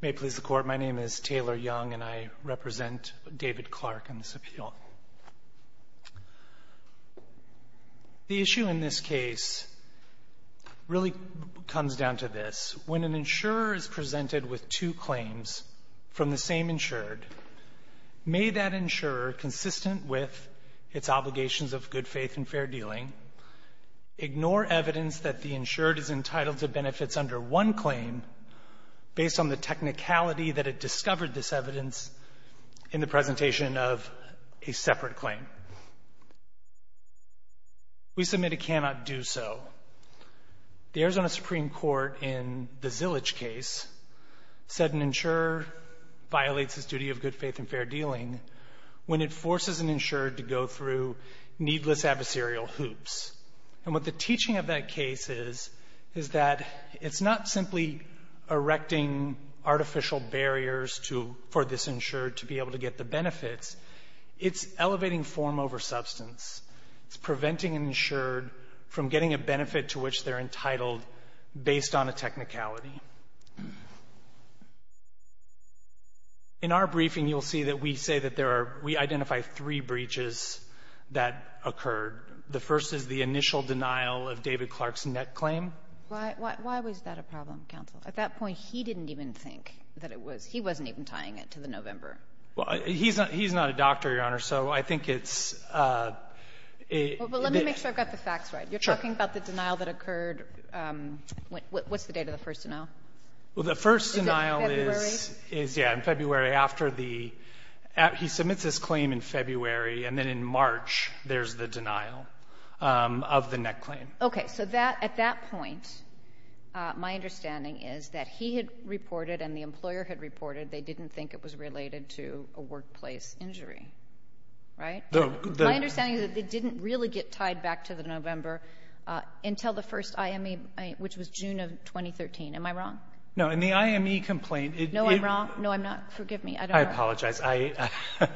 May it please the Court, my name is Taylor Young, and I represent David Clark in this appeal. The issue in this case really comes down to this. When an insurer is presented with two claims from the same insured, may that insurer, consistent with its obligations of good faith and fair dealing, ignore evidence that the insured is entitled to benefits under one claim based on the technicality that it discovered this evidence in the presentation of a separate claim. We submit it cannot do so. The Arizona Supreme Court in the Zillage case said an insurer violates its duty of good faith and fair dealing when it forces an insured to go through needless adversarial hoops. And what the teaching of that case is, is that it's not simply erecting artificial barriers for this insured to be able to get the benefits. It's elevating form over substance. It's preventing an insured from getting a benefit to which they're entitled based on a technicality. In our briefing, you'll see that we say that there are we identify three breaches that occurred. The first is the initial denial of David Clark's net claim. Why was that a problem, counsel? At that point, he didn't even think that it was. He wasn't even tying it to the November. Well, he's not a doctor, Your Honor. So I think it's a bit of a ---- Well, let me make sure I've got the facts right. Sure. You're talking about the denial that occurred. What's the date of the first denial? Well, the first denial is ---- February? Yeah, in February, after the ---- he submits his claim in February, and then in March there's the denial of the net claim. Okay. So at that point, my understanding is that he had reported and the employer had reported they didn't think it was related to a workplace injury, right? My understanding is that they didn't really get tied back to the November until the first IME, which was June of 2013. Am I wrong? No. In the IME complaint, it ---- No, I'm wrong. No, I'm not. Forgive me. I don't know. I apologize. I ----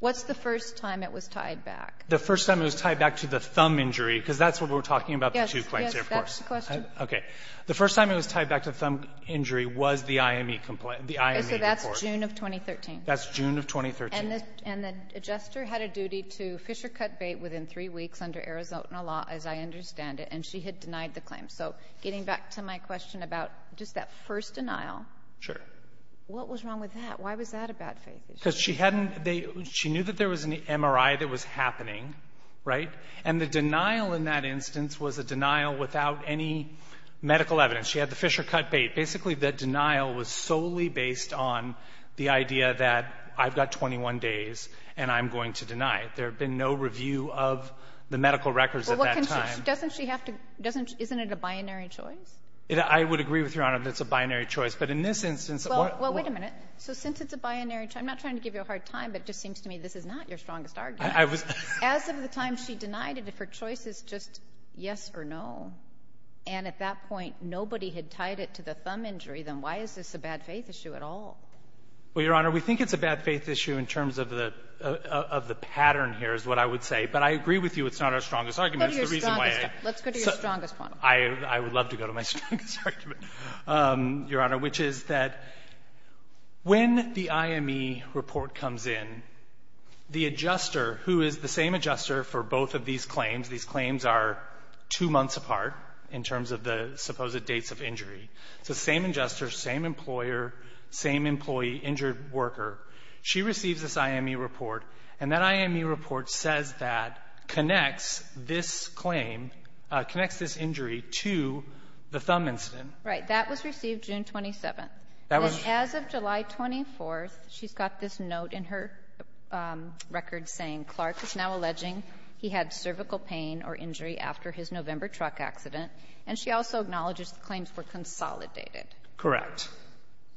What's the first time it was tied back? The first time it was tied back to the thumb injury, because that's what we're talking about, the two claims there, of course. Yes. That's the question. Okay. The first time it was tied back to thumb injury was the IME complaint, the IME report. Okay. So that's June of 2013. That's June of 2013. And the adjuster had a duty to fish or cut bait within three weeks under Arizona law, as I understand it. And she had denied the claim. So getting back to my question about just that first denial. Sure. What was wrong with that? Why was that a bad faith issue? Because she hadn't ---- she knew that there was an MRI that was happening, right? And the denial in that instance was a denial without any medical evidence. She had the fish or cut bait. Basically, the denial was solely based on the idea that I've got 21 days and I'm going to deny it. There had been no review of the medical records at that time. Well, what can she ---- doesn't she have to ---- doesn't she ---- isn't it a binary choice? I would agree with Your Honor that it's a binary choice. But in this instance, what ---- Well, wait a minute. So since it's a binary ---- I'm not trying to give you a hard time, but it just seems to me this is not your strongest argument. I was ---- As of the time she denied it, if her choice is just yes or no, and at that point nobody had tied it to the thumb injury, then why is this a bad faith issue at all? Well, Your Honor, we think it's a bad faith issue in terms of the ---- of the pattern here is what I would say. But I agree with you it's not our strongest argument. It's the reason why I ---- Let's go to your strongest point. I would love to go to my strongest argument, Your Honor, which is that when the IME report comes in, the adjuster who is the same adjuster for both of these claims are two months apart in terms of the supposed dates of injury. It's the same adjuster, same employer, same employee, injured worker. She receives this IME report, and that IME report says that connects this claim, connects this injury to the thumb incident. Right. That was received June 27th. That was ---- And as of July 24th, she's got this note in her record saying Clark is now alleging he had cervical pain or injury after his November truck accident. And she also acknowledges the claims were consolidated. Correct.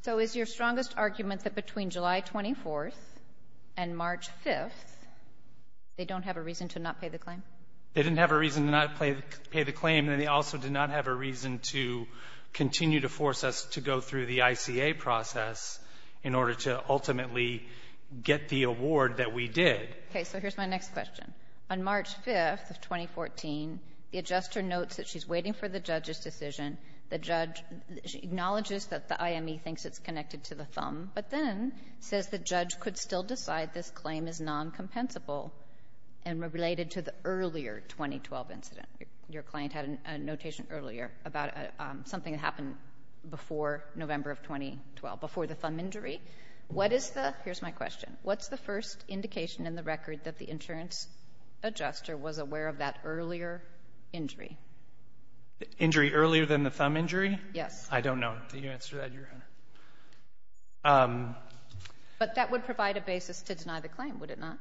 So is your strongest argument that between July 24th and March 5th, they don't have a reason to not pay the claim? They didn't have a reason to not pay the claim, and they also did not have a reason to continue to force us to go through the ICA process in order to ultimately get the award that we did. Okay. So here's my next question. On March 5th of 2014, the adjuster notes that she's waiting for the judge's decision. The judge acknowledges that the IME thinks it's connected to the thumb, but then says the judge could still decide this claim is noncompensable and related to the earlier 2012 incident. Your client had a notation earlier about something that happened before November of 2012, before the thumb injury. What is the ---- here's my question. What's the first indication in the record that the insurance adjuster was aware of that earlier injury? Injury earlier than the thumb injury? Yes. I don't know the answer to that, Your Honor. But that would provide a basis to deny the claim, would it not?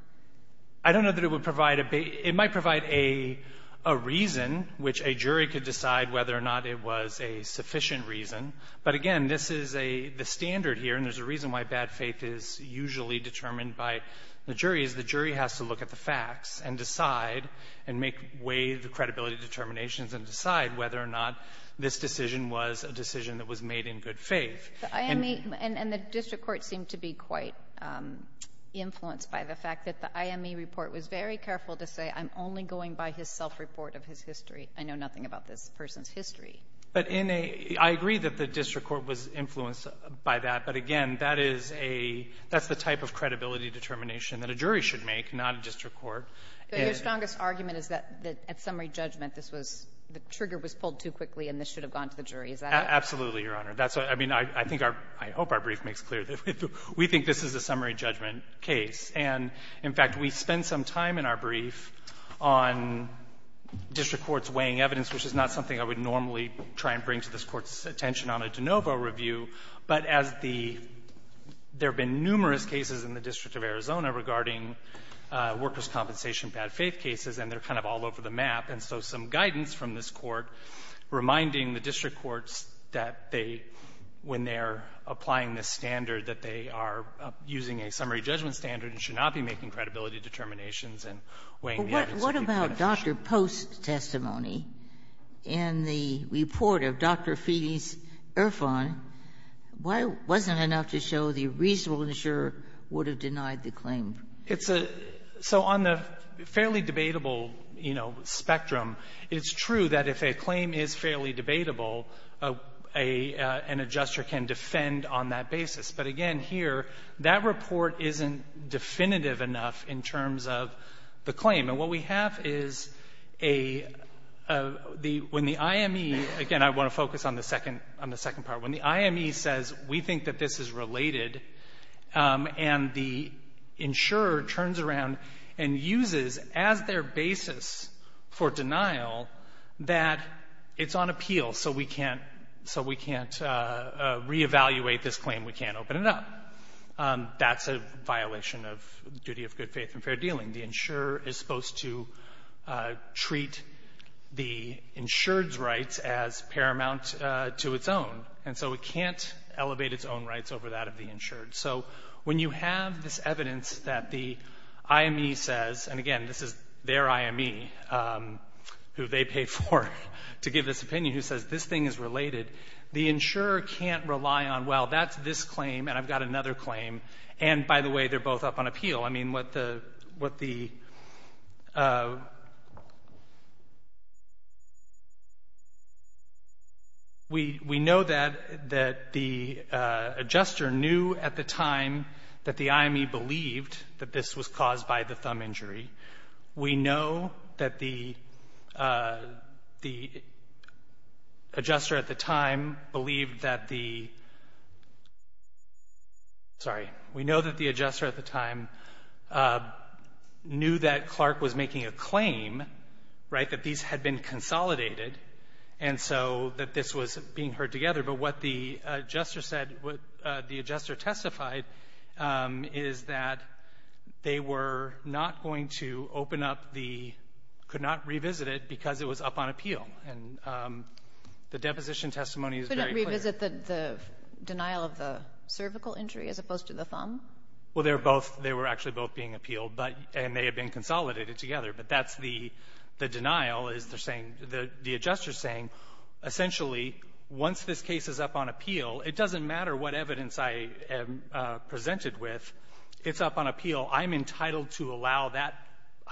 I don't know that it would provide a ---- it might provide a reason which a jury could decide whether or not it was a sufficient reason. But again, this is a ---- the standard here, and there's a reason why bad faith is usually determined by the jury, is the jury has to look at the facts and decide and make way the credibility determinations and decide whether or not this decision was a decision that was made in good faith. The IME ---- and the district court seemed to be quite influenced by the fact that the IME report was very careful to say I'm only going by his self-report of his history. I know nothing about this person's history. But in a ---- I agree that the district court was influenced by that. But again, that is a ---- that's the type of credibility determination that a jury should make, not a district court. Your strongest argument is that at summary judgment, this was ---- the trigger was pulled too quickly and this should have gone to the jury. Is that it? Absolutely, Your Honor. That's what ---- I mean, I think our ---- I hope our brief makes clear that we think this is a summary judgment case. And, in fact, we spend some time in our brief on district court's weighing evidence, which is not something I would normally try and bring to this Court's attention on a de novo review, but as the ---- there have been numerous cases in the District of Arizona regarding workers' compensation bad-faith cases, and they're kind of all over the map. And so some guidance from this Court reminding the district courts that they, when they're applying this standard, that they are using a summary judgment standard and should not be making credibility determinations and weighing the evidence. What about Dr. Post's testimony in the report of Dr. Felix Irfan? Why wasn't it enough to show the reasonable insurer would have denied the claim? It's a ---- so on the fairly debatable, you know, spectrum, it's true that if a claim is fairly debatable, a ---- an adjuster can defend on that basis. But, again, here, that report isn't definitive enough in terms of the claim. And what we have is a ---- the ---- when the IME ---- again, I want to focus on the second ---- on the second part. When the IME says, we think that this is related, and the insurer turns around and uses as their basis for denial that it's on appeal, so we can't ---- so we can't re-evaluate this claim, we can't open it up, that's a violation of duty of good faith and fair dealing. The insurer is supposed to treat the insured's rights as paramount to its own, and so it can't elevate its own rights over that of the insured. So when you have this evidence that the IME says, and, again, this is their IME who they pay for to give this opinion, who says this thing is related, the insurer can't rely on, well, that's this claim, and I've got another claim, and, by the way, they're both up on appeal. I mean, what the ---- what the ---- we know that the adjuster knew at the time that the IME believed that this was caused by the thumb injury. We know that the adjuster at the time believed that the ---- sorry. We know that the adjuster at the time knew that Clark was making a claim, right, that these had been consolidated, and so that this was being heard together. But what the adjuster said, what the adjuster testified, is that they were not going to open up the ---- could not revisit it because it was up on appeal. And the deposition testimony is very clear. Kagan. Could it revisit the denial of the cervical injury as opposed to the thumb? Well, they were both ---- they were actually both being appealed, but ---- and they had been consolidated together. But that's the denial, is they're saying, the adjuster is saying, essentially, once this case is up on appeal, it doesn't matter what evidence I am presented with. It's up on appeal. I'm entitled to allow that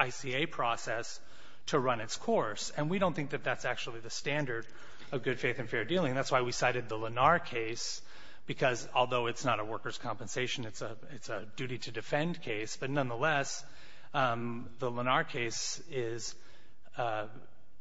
ICA process to run its course. And we don't think that that's actually the standard of good-faith and fair dealing. That's why we cited the Lenar case, because although it's not a workers' compensation, it's a duty-to-defend case. But nonetheless, the Lenar case is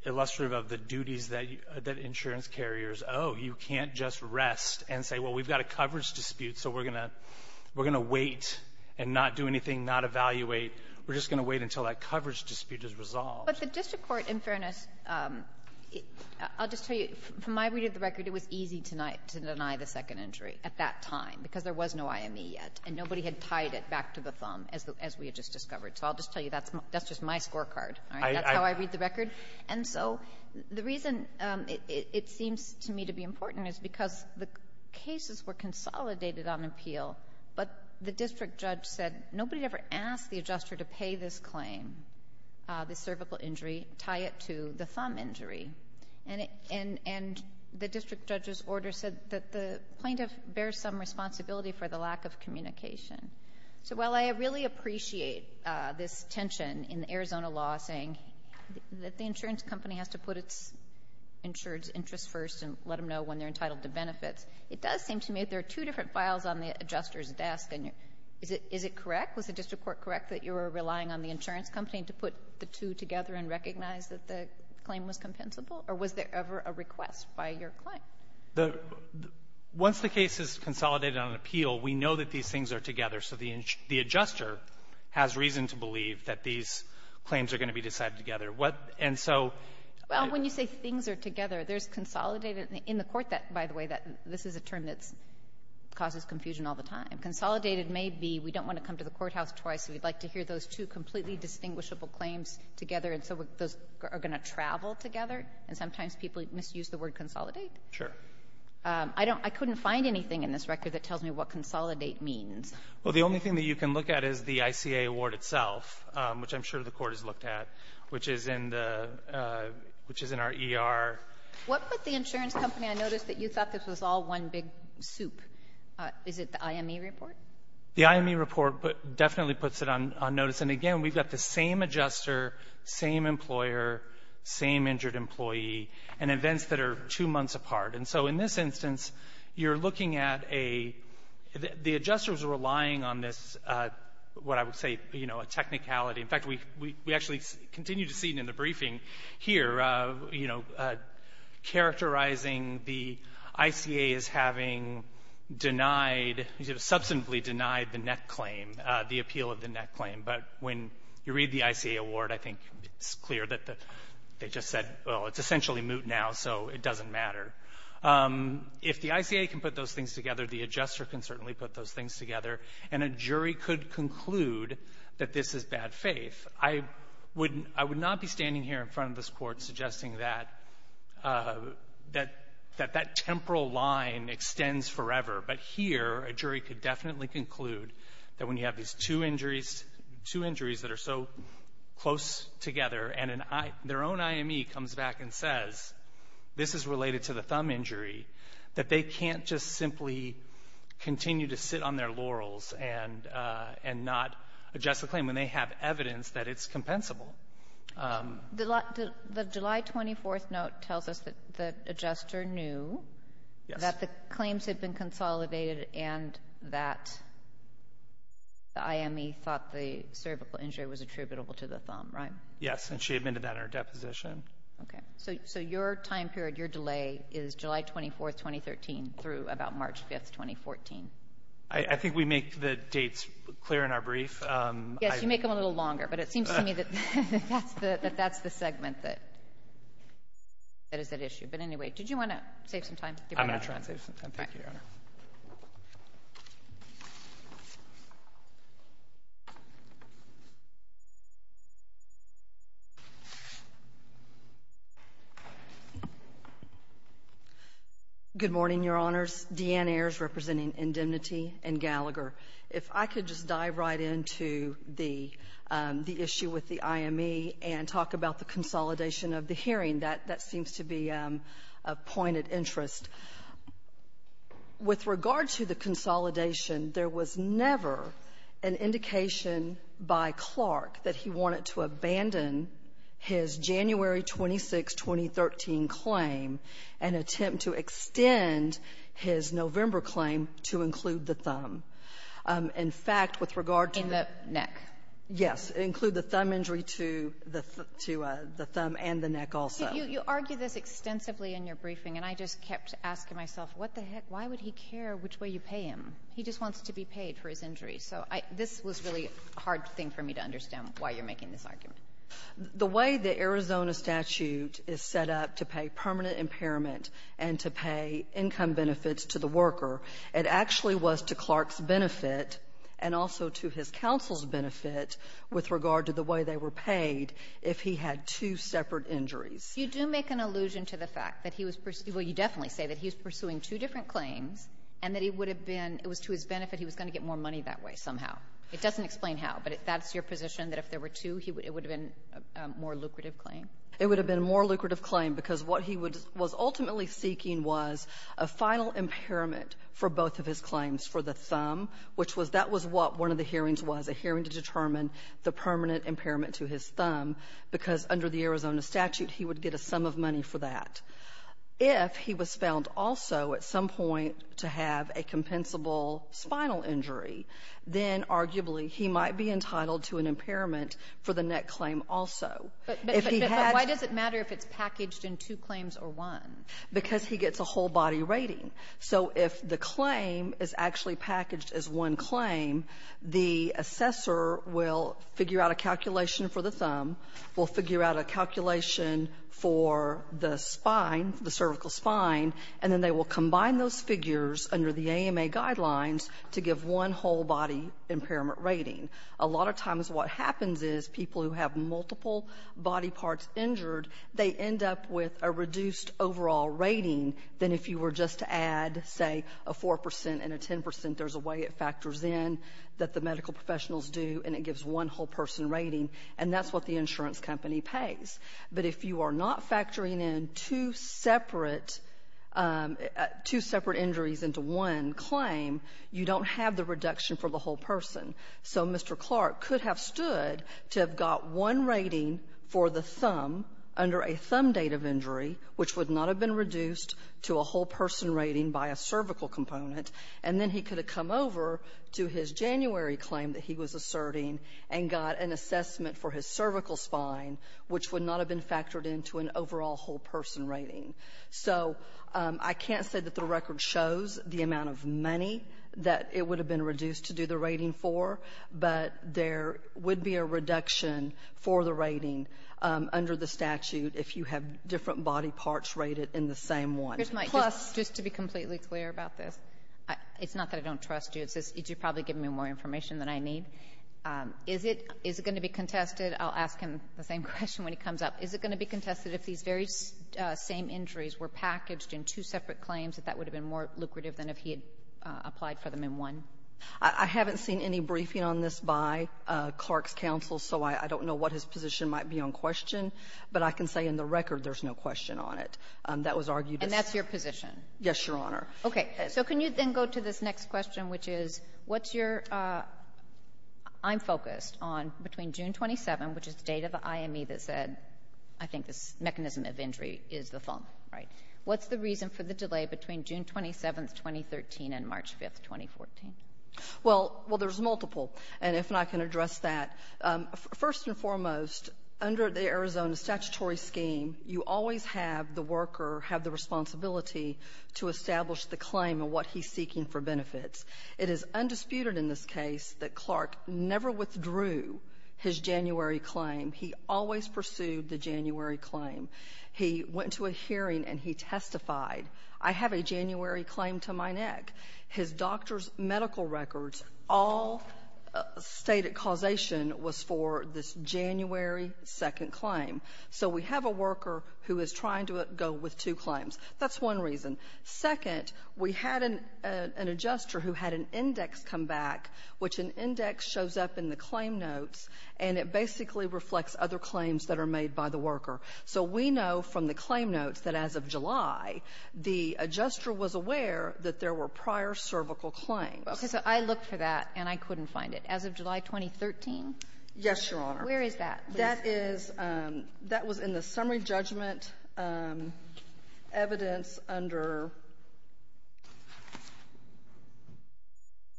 illustrative of the duties that you ---- that insurance carriers, oh, you can't just rest and say, well, we've got a coverage dispute, so we're going to wait and not do anything, not evaluate. We're just going to wait until that coverage dispute is resolved. But the district court, in fairness, I'll just tell you, from my reading of the record, it was easy to deny the second injury at that time because there was no IME yet. And nobody had tied it back to the thumb, as we had just discovered. So I'll just tell you, that's my ---- that's just my scorecard. All right? That's how I read the record. And so the reason it seems to me to be important is because the cases were consolidated on appeal, but the district judge said nobody ever asked the adjuster to pay this claim, the cervical injury, tie it to the thumb injury. And it ---- and the district judge's order said that the plaintiff bears some responsibility for the lack of communication. So while I really appreciate this tension in the Arizona law saying that the insurance company has to put its insured's interests first and let them know when they're entitled to benefits, it does seem to me that there are two different files on the adjuster's desk. And is it correct, was the district court correct, that you were relying on the insurance company to put the two together and recognize that the claim was compensable? Or was there ever a request by your client? The ---- once the case is consolidated on appeal, we know that these things are together, so the adjuster has reason to believe that these claims are going to be decided together. What ---- and so ---- Well, when you say things are together, there's consolidated in the court that, by the way, that this is a term that's ---- causes confusion all the time. Consolidated may be we don't want to come to the courthouse twice, so we'd like to hear those two completely distinguishable claims together, and so those are going to travel together, and sometimes people misuse the word consolidate. Sure. I don't ---- I couldn't find anything in this record that tells me what consolidate means. Well, the only thing that you can look at is the ICA award itself, which I'm sure the Court has looked at, which is in the ---- which is in our ER. What put the insurance company on notice that you thought this was all one big soup? Is it the IME report? The IME report definitely puts it on notice. And again, we've got the same adjuster, same employer, same injured employee, and events that are two months apart. And so in this instance, you're looking at a ---- the adjusters are relying on this, what I would say, you know, a technicality. In fact, we actually continue to see it in the briefing here, you know, characterizing the ICA as having denied, you know, substantively denied the net claim, the appeal of the net claim. But when you read the ICA award, I think it's clear that they just said, well, it's essentially moot now, so it doesn't matter. If the ICA can put those things together, the adjuster can certainly put those things together. And a jury could conclude that this is bad faith. I would not be standing here in front of this Court suggesting that that temporal line extends forever. But here, a jury could definitely conclude that when you have these two injuries that are so close together, and an IME ---- their own IME comes back and says, this is related to the thumb injury, that they can't just simply continue to sit on their laurels and not adjust the claim when they have evidence that it's compensable. The July 24th note tells us that the adjuster knew that the claims had been consolidated and that the IME thought the cervical injury was attributable to the thumb, right? Yes. And she admitted that in her deposition. Okay. So your time period, your delay is July 24th, 2013 through about March 5th, 2014. I think we make the dates clear in our brief. Yes, you make them a little longer, but it seems to me that that's the segment that is at issue. But anyway, did you want to save some time? I'm going to try and save some time. Thank you, Your Honor. Good morning, Your Honors. Deanne Ayers, representing Indemnity and Gallagher. If I could just dive right into the issue with the IME and talk about the consolidation of the hearing, that seems to be a point of interest. With regard to the consolidation, there was never an indication by Clark that he wanted to abandon his January 26, 2013 claim and attempt to extend his November claim to include the thumb. In fact, with regard to the neck. Yes. Include the thumb injury to the thumb and the neck also. You argue this extensively in your briefing, and I just kept asking myself, what the heck? Why would he care which way you pay him? He just wants to be paid for his injury. So this was really a hard thing for me to understand why you're making this argument. The way the Arizona statute is set up to pay permanent impairment and to pay income benefits to the worker, it actually was to Clark's benefit and also to his counsel's with regard to the way they were paid if he had two separate injuries. You do make an allusion to the fact that he was pursuing — well, you definitely say that he was pursuing two different claims and that he would have been — it was to his benefit he was going to get more money that way somehow. It doesn't explain how, but that's your position, that if there were two, it would have been a more lucrative claim? It would have been a more lucrative claim because what he was ultimately seeking was a final impairment for both of his claims for the thumb, which was — that was what one of the hearings was, a hearing to determine the permanent impairment to his thumb, because under the Arizona statute, he would get a sum of money for that. If he was found also at some point to have a compensable spinal injury, then arguably he might be entitled to an impairment for the neck claim also. If he had — But why does it matter if it's packaged in two claims or one? Because he gets a whole body rating. So if the claim is actually packaged as one claim, the assessor will figure out a calculation for the thumb, will figure out a calculation for the spine, the cervical spine, and then they will combine those figures under the AMA guidelines to give one whole body impairment rating. A lot of times what happens is people who have multiple body parts injured, they end up with a reduced overall rating than if you were just to add, say, a 4 percent and a 10 percent. There's a way it factors in that the medical professionals do, and it gives one whole person rating. And that's what the insurance company pays. But if you are not factoring in two separate — two separate injuries into one claim, you don't have the reduction for the whole person. So Mr. Clark could have stood to have got one rating for the thumb under a thumb date of injury, which would not have been reduced to a whole person rating by a cervical component, and then he could have come over to his January claim that he was asserting and got an assessment for his cervical spine, which would not have been factored into an overall whole person rating. So I can't say that the record shows the amount of money that it would have been reduced to do the rating for, but there would be a reduction for the rating under the statute if you have different body parts rated in the same one. Plus — Kagan. Here's my — just to be completely clear about this, it's not that I don't trust you. It's just that you're probably giving me more information than I need. Is it — is it going to be contested — I'll ask him the same question when he comes up — is it going to be contested if these very same injuries were packaged in two separate claims, that that would have been more lucrative than if he had applied for them in one? I haven't seen any briefing on this by Clark's counsel, so I don't know what his position might be on question, but I can say in the record there's no question on it. That was argued as — And that's your position? Yes, Your Honor. Okay. So can you then go to this next question, which is what's your — I'm focused on between June 27, which is the date of the IME that said, I think, this mechanism of injury is the thump, right? What's the reason for the delay between June 27, 2013, and March 5, 2014? Well — well, there's multiple, and if I can address that, first and foremost, under the Arizona statutory scheme, you always have the worker have the responsibility to establish the claim and what he's seeking for benefits. It is undisputed in this case that Clark never withdrew his January claim. He always pursued the January claim. He went to a hearing, and he testified, I have a January claim to my neck. His doctor's medical records all stated causation was for this January 2nd claim. So we have a worker who is trying to go with two claims. That's one reason. Second, we had an adjuster who had an index come back, which an index shows up in the claim notes, and it basically reflects other claims that are made by the worker. So we know from the claim notes that as of July, the adjuster was aware that there were prior cervical claims. Okay. So I looked for that, and I couldn't find it. As of July 2013? Yes, Your Honor. Where is that? That is — that was in the summary judgment evidence under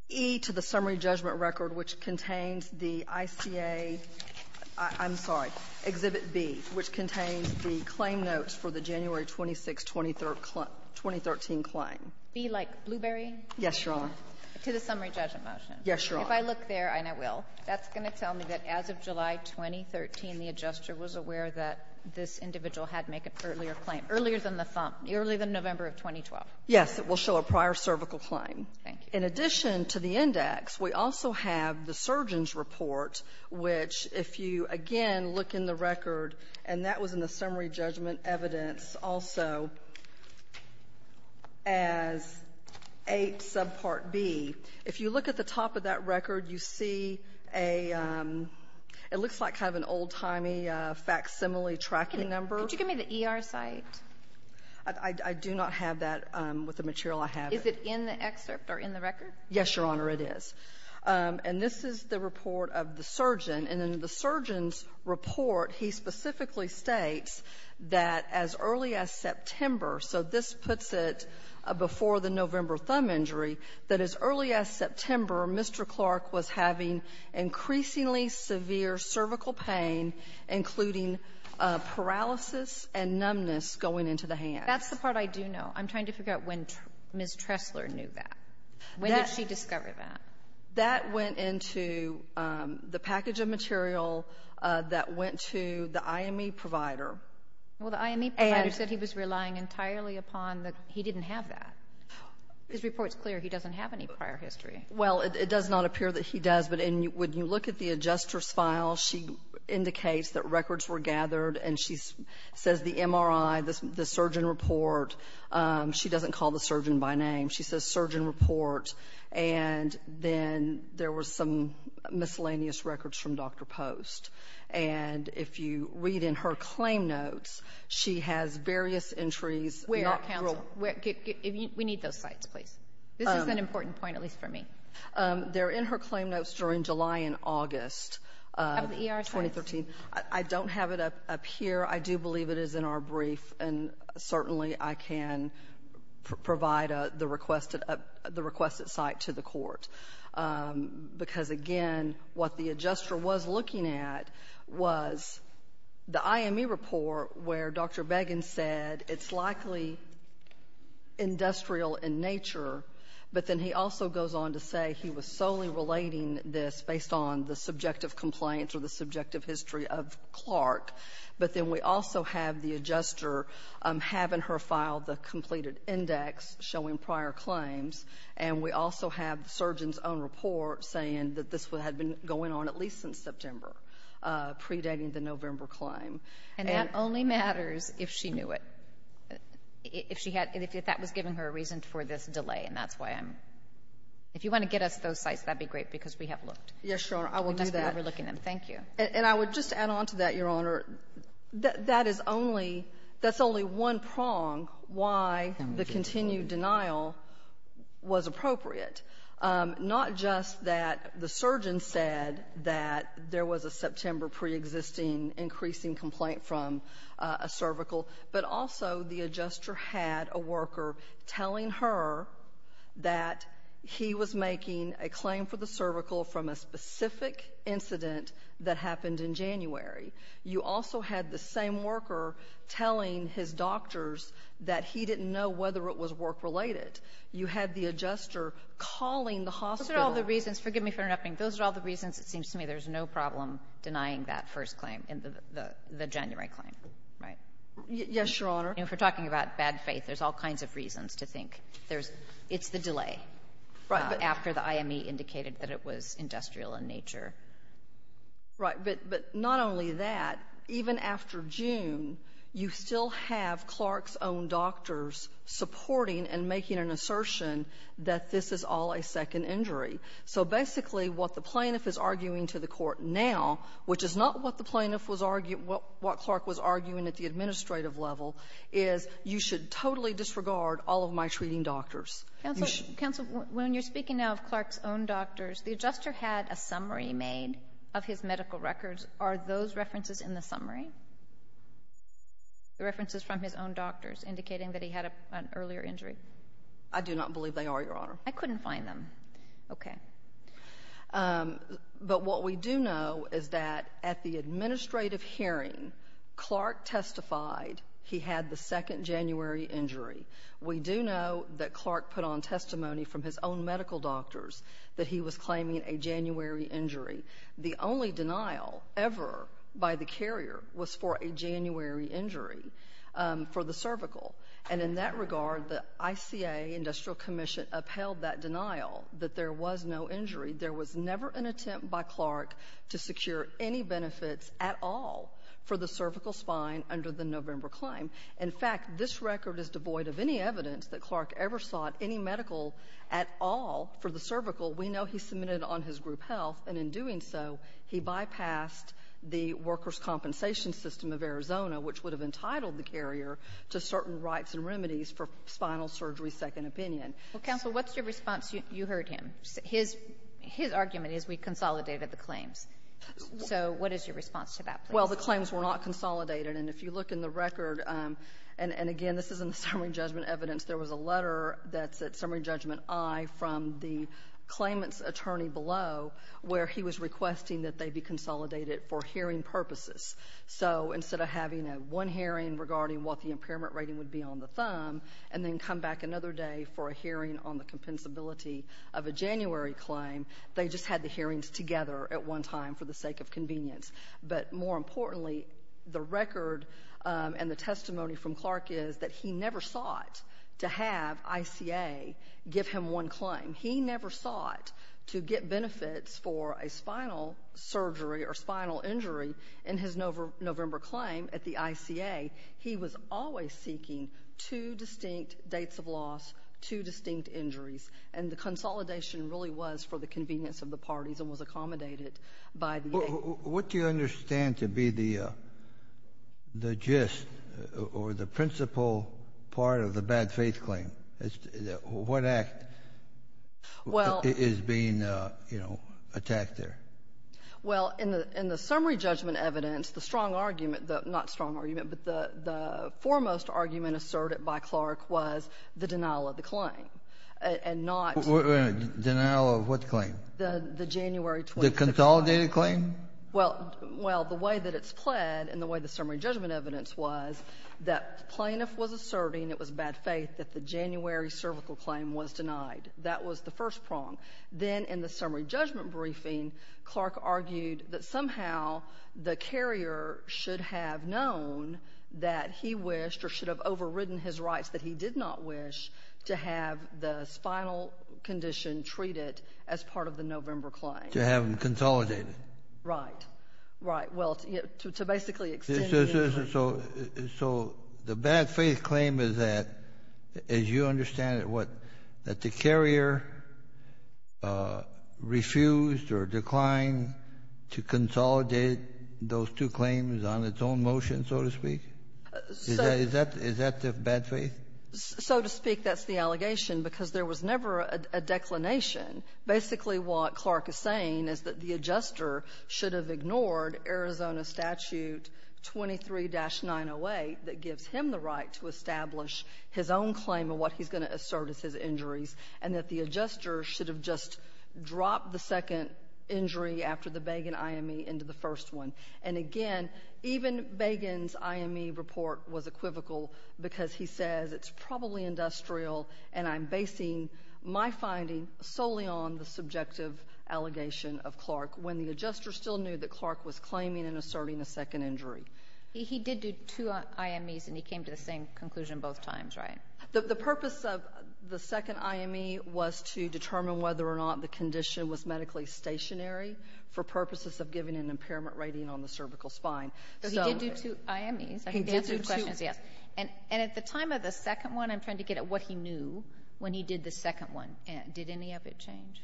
E to the summary judgment record, which contains the ICA — I'm sorry, Exhibit B, which contains the claim notes for the January 26, 2013 claim. B, like blueberry? Yes, Your Honor. To the summary judgment motion. Yes, Your Honor. If I look there, and I will, that's going to tell me that as of July 2013, the adjuster was aware that this individual had to make an earlier claim, earlier than the thumb, earlier than November of 2012. Yes. It will show a prior cervical claim. Thank you. In addition to the index, we also have the surgeon's report, which if you, again, look in the record, and that was in the summary judgment evidence also as A subpart B. If you look at the top of that record, you see a — it looks like kind of an old-timey facsimile tracking number. Could you give me the ER site? I do not have that with the material I have. Is it in the excerpt or in the record? Yes, Your Honor, it is. And this is the report of the surgeon. And in the surgeon's report, he specifically states that as early as September — so this puts it before the November thumb injury — that as early as September, Mr. Clark was having increasingly severe cervical pain, including paralysis and numbness going into the hands. That's the part I do know. I'm trying to figure out when Ms. Tressler knew that. When did she discover that? That went into the package of material that went to the IME provider. Well, the IME provider said he was relying entirely upon the — he didn't have that. His report's clear. He doesn't have any prior history. Well, it does not appear that he does. But when you look at the adjuster's file, she indicates that records were gathered, and she says the MRI, the surgeon report. She doesn't call the surgeon by name. She says surgeon report. And then there were some miscellaneous records from Dr. Post. And if you read in her claim notes, she has various entries. Where, counsel? We need those sites, please. This is an important point, at least for me. They're in her claim notes during July and August of 2013. I don't have it up here. I do believe it is in our brief. And certainly I can provide the requested — the requested site to the court. Because, again, what the adjuster was looking at was the IME report where Dr. Beggin said it's likely industrial in nature, but then he also goes on to say he was solely relating this based on the subjective complaints or the subjective history of Clark. But then we also have the adjuster having her file the completed index showing prior claims. And we also have the surgeon's own report saying that this had been going on at least since September, predating the November claim. And — And that only matters if she knew it, if she had — if that was giving her a reason for this delay, and that's why I'm — if you want to get us those sites, that would be great, because we have looked. Yes, Your Honor. I will do that. Thank you. And I would just add on to that, Your Honor, that is only — that's only one prong why the continued denial was appropriate, not just that the surgeon said that there was a September preexisting increasing complaint from a cervical, but also the adjuster had a worker telling her that he was making a claim for the cervical from a specific incident that happened in January. You also had the same worker telling his doctors that he didn't know whether it was work-related. You had the adjuster calling the hospital. Those are all the reasons. Forgive me for interrupting. Those are all the reasons, it seems to me, there's no problem denying that first claim in the — the January claim, right? Yes, Your Honor. And if we're talking about bad faith, there's all kinds of reasons to think there's — it's the delay. Right. After the IME indicated that it was industrial in nature. Right. But not only that, even after June, you still have Clark's own doctors supporting and making an assertion that this is all a second injury. So basically, what the plaintiff is arguing to the Court now, which is not what the plaintiff was — what Clark was arguing at the administrative level, is you should totally disregard all of my treating doctors. Counsel, when you're speaking now of Clark's own doctors, the adjuster had a summary made of his medical records. Are those references in the summary? The references from his own doctors indicating that he had an earlier injury? I do not believe they are, Your Honor. I couldn't find them. Okay. But what we do know is that at the administrative hearing, Clark testified he had the second January injury. We do know that Clark put on testimony from his own medical doctors that he was claiming a January injury. The only denial ever by the carrier was for a January injury for the cervical. And in that regard, the ICA, Industrial Commission, upheld that denial that there was no injury. There was never an attempt by Clark to secure any benefits at all for the cervical spine under the November claim. In fact, this record is devoid of any evidence that Clark ever sought any medical at all for the cervical. We know he submitted on his group health. And in doing so, he bypassed the workers' compensation system of Arizona, which would have entitled the carrier to certain rights and remedies for spinal surgery second opinion. Well, counsel, what's your response? You heard him. His — his argument is we consolidated the claims. So what is your response to that? Well, the claims were not consolidated. And if you look in the record — and again, this isn't the summary judgment evidence. There was a letter that's at summary judgment I from the claimant's attorney below where he was requesting that they be consolidated for hearing purposes. So instead of having a one hearing regarding what the impairment rating would be on the thumb and then come back another day for a hearing on the compensability of a January claim, they just had the hearings together at one time for the sake of convenience. But more importantly, the record and the testimony from Clark is that he never sought to have ICA give him one claim. He never sought to get benefits for a spinal surgery or spinal injury in his November — November claim at the ICA. He was always seeking two distinct dates of loss, two distinct injuries. And the consolidation really was for the convenience of the parties and was accommodated by the — What do you understand to be the — the gist or the principal part of the bad faith claim? What act is being, you know, attacked there? Well, in the — in the summary judgment evidence, the strong argument — not strong argument, but the foremost argument asserted by Clark was the denial of the claim and not — Denial of what claim? The January 26th — The consolidated claim? Well — well, the way that it's pled and the way the summary judgment evidence was, that plaintiff was asserting it was bad faith that the January cervical claim was denied. That was the first prong. Then in the summary judgment briefing, Clark argued that somehow the carrier should have known that he wished or should have overridden his rights that he did not wish to have the spinal condition treated as part of the November claim. To have them consolidated. Right. Right. Well, to basically extend the — So — so the bad faith claim is that, as you understand it, what, that the carrier refused or declined to consolidate those two claims on its own motion, so to speak? Is that — is that the bad faith? So to speak, that's the allegation, because there was never a declination. Basically, what Clark is saying is that the adjuster should have ignored Arizona Statute 23-908 that gives him the right to establish his own claim and what he's going to assert as his injuries, and that the adjuster should have just dropped the second injury after the Bagan IME into the first one. And again, even Bagan's IME report was equivocal because he says it's probably and I'm basing my finding solely on the subjective allegation of Clark when the adjuster still knew that Clark was claiming and asserting a second injury. He did do two IMEs, and he came to the same conclusion both times, right? The purpose of the second IME was to determine whether or not the condition was medically stationary for purposes of giving an impairment rating on the cervical spine. So he did do two IMEs. He did do two — And at the time of the second one, I'm trying to get at what he knew when he did the second one. Did any of it change?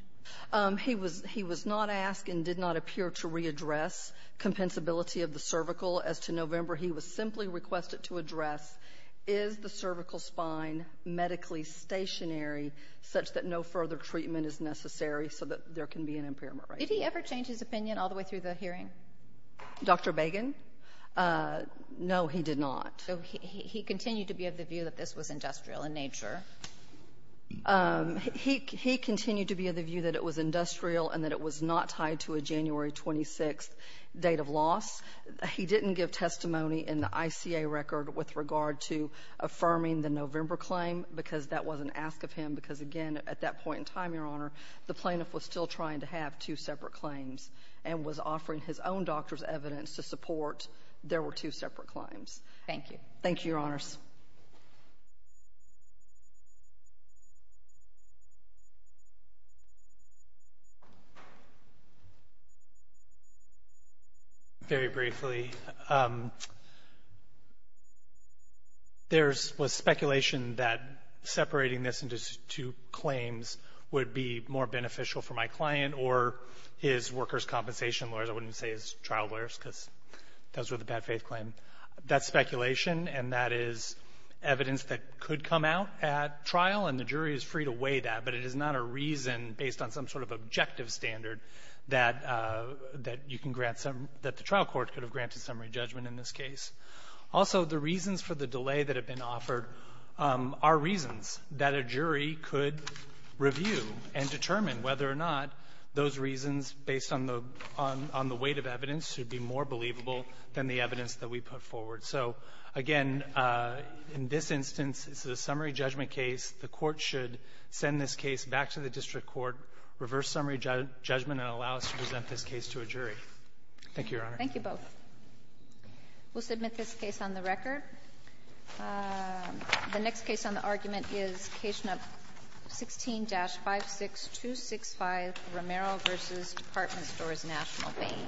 He was not asked and did not appear to readdress compensability of the cervical. As to November, he was simply requested to address, is the cervical spine medically stationary such that no further treatment is necessary so that there can be an impairment rating? Did he ever change his opinion all the way through the hearing? Dr. Bagan? No, he did not. So he continued to be of the view that this was industrial in nature? He continued to be of the view that it was industrial and that it was not tied to a January 26th date of loss. He didn't give testimony in the ICA record with regard to affirming the November claim because that wasn't asked of him because, again, at that point in time, Your Honor, the plaintiff was still trying to have two separate claims and was offering his own doctor's evidence to support there were two separate claims. Thank you. Thank you, Your Honors. Very briefly, there was speculation that separating this into two claims would be more beneficial for my client or his workers' compensation lawyers. I wouldn't say his trial lawyers because those were the bad-faith claim. That's speculation, and that is evidence that could come out at trial, and the jury is free to weigh that, but it is not a reason based on some sort of objective standard that you can grant some – that the trial court could have granted summary judgment in this case. Also, the reasons for the delay that have been offered are reasons that a jury could review and determine whether or not those reasons based on the weight of evidence should be more believable than the evidence that we put forward. So, again, in this instance, it's a summary judgment case. The court should send this case back to the district court, reverse summary judgment, and allow us to present this case to a jury. Thank you, Your Honor. Thank you both. We'll submit this case on the record. The next case on the argument is Case No. 16-56265, Romero v. Department Stores, National Bank.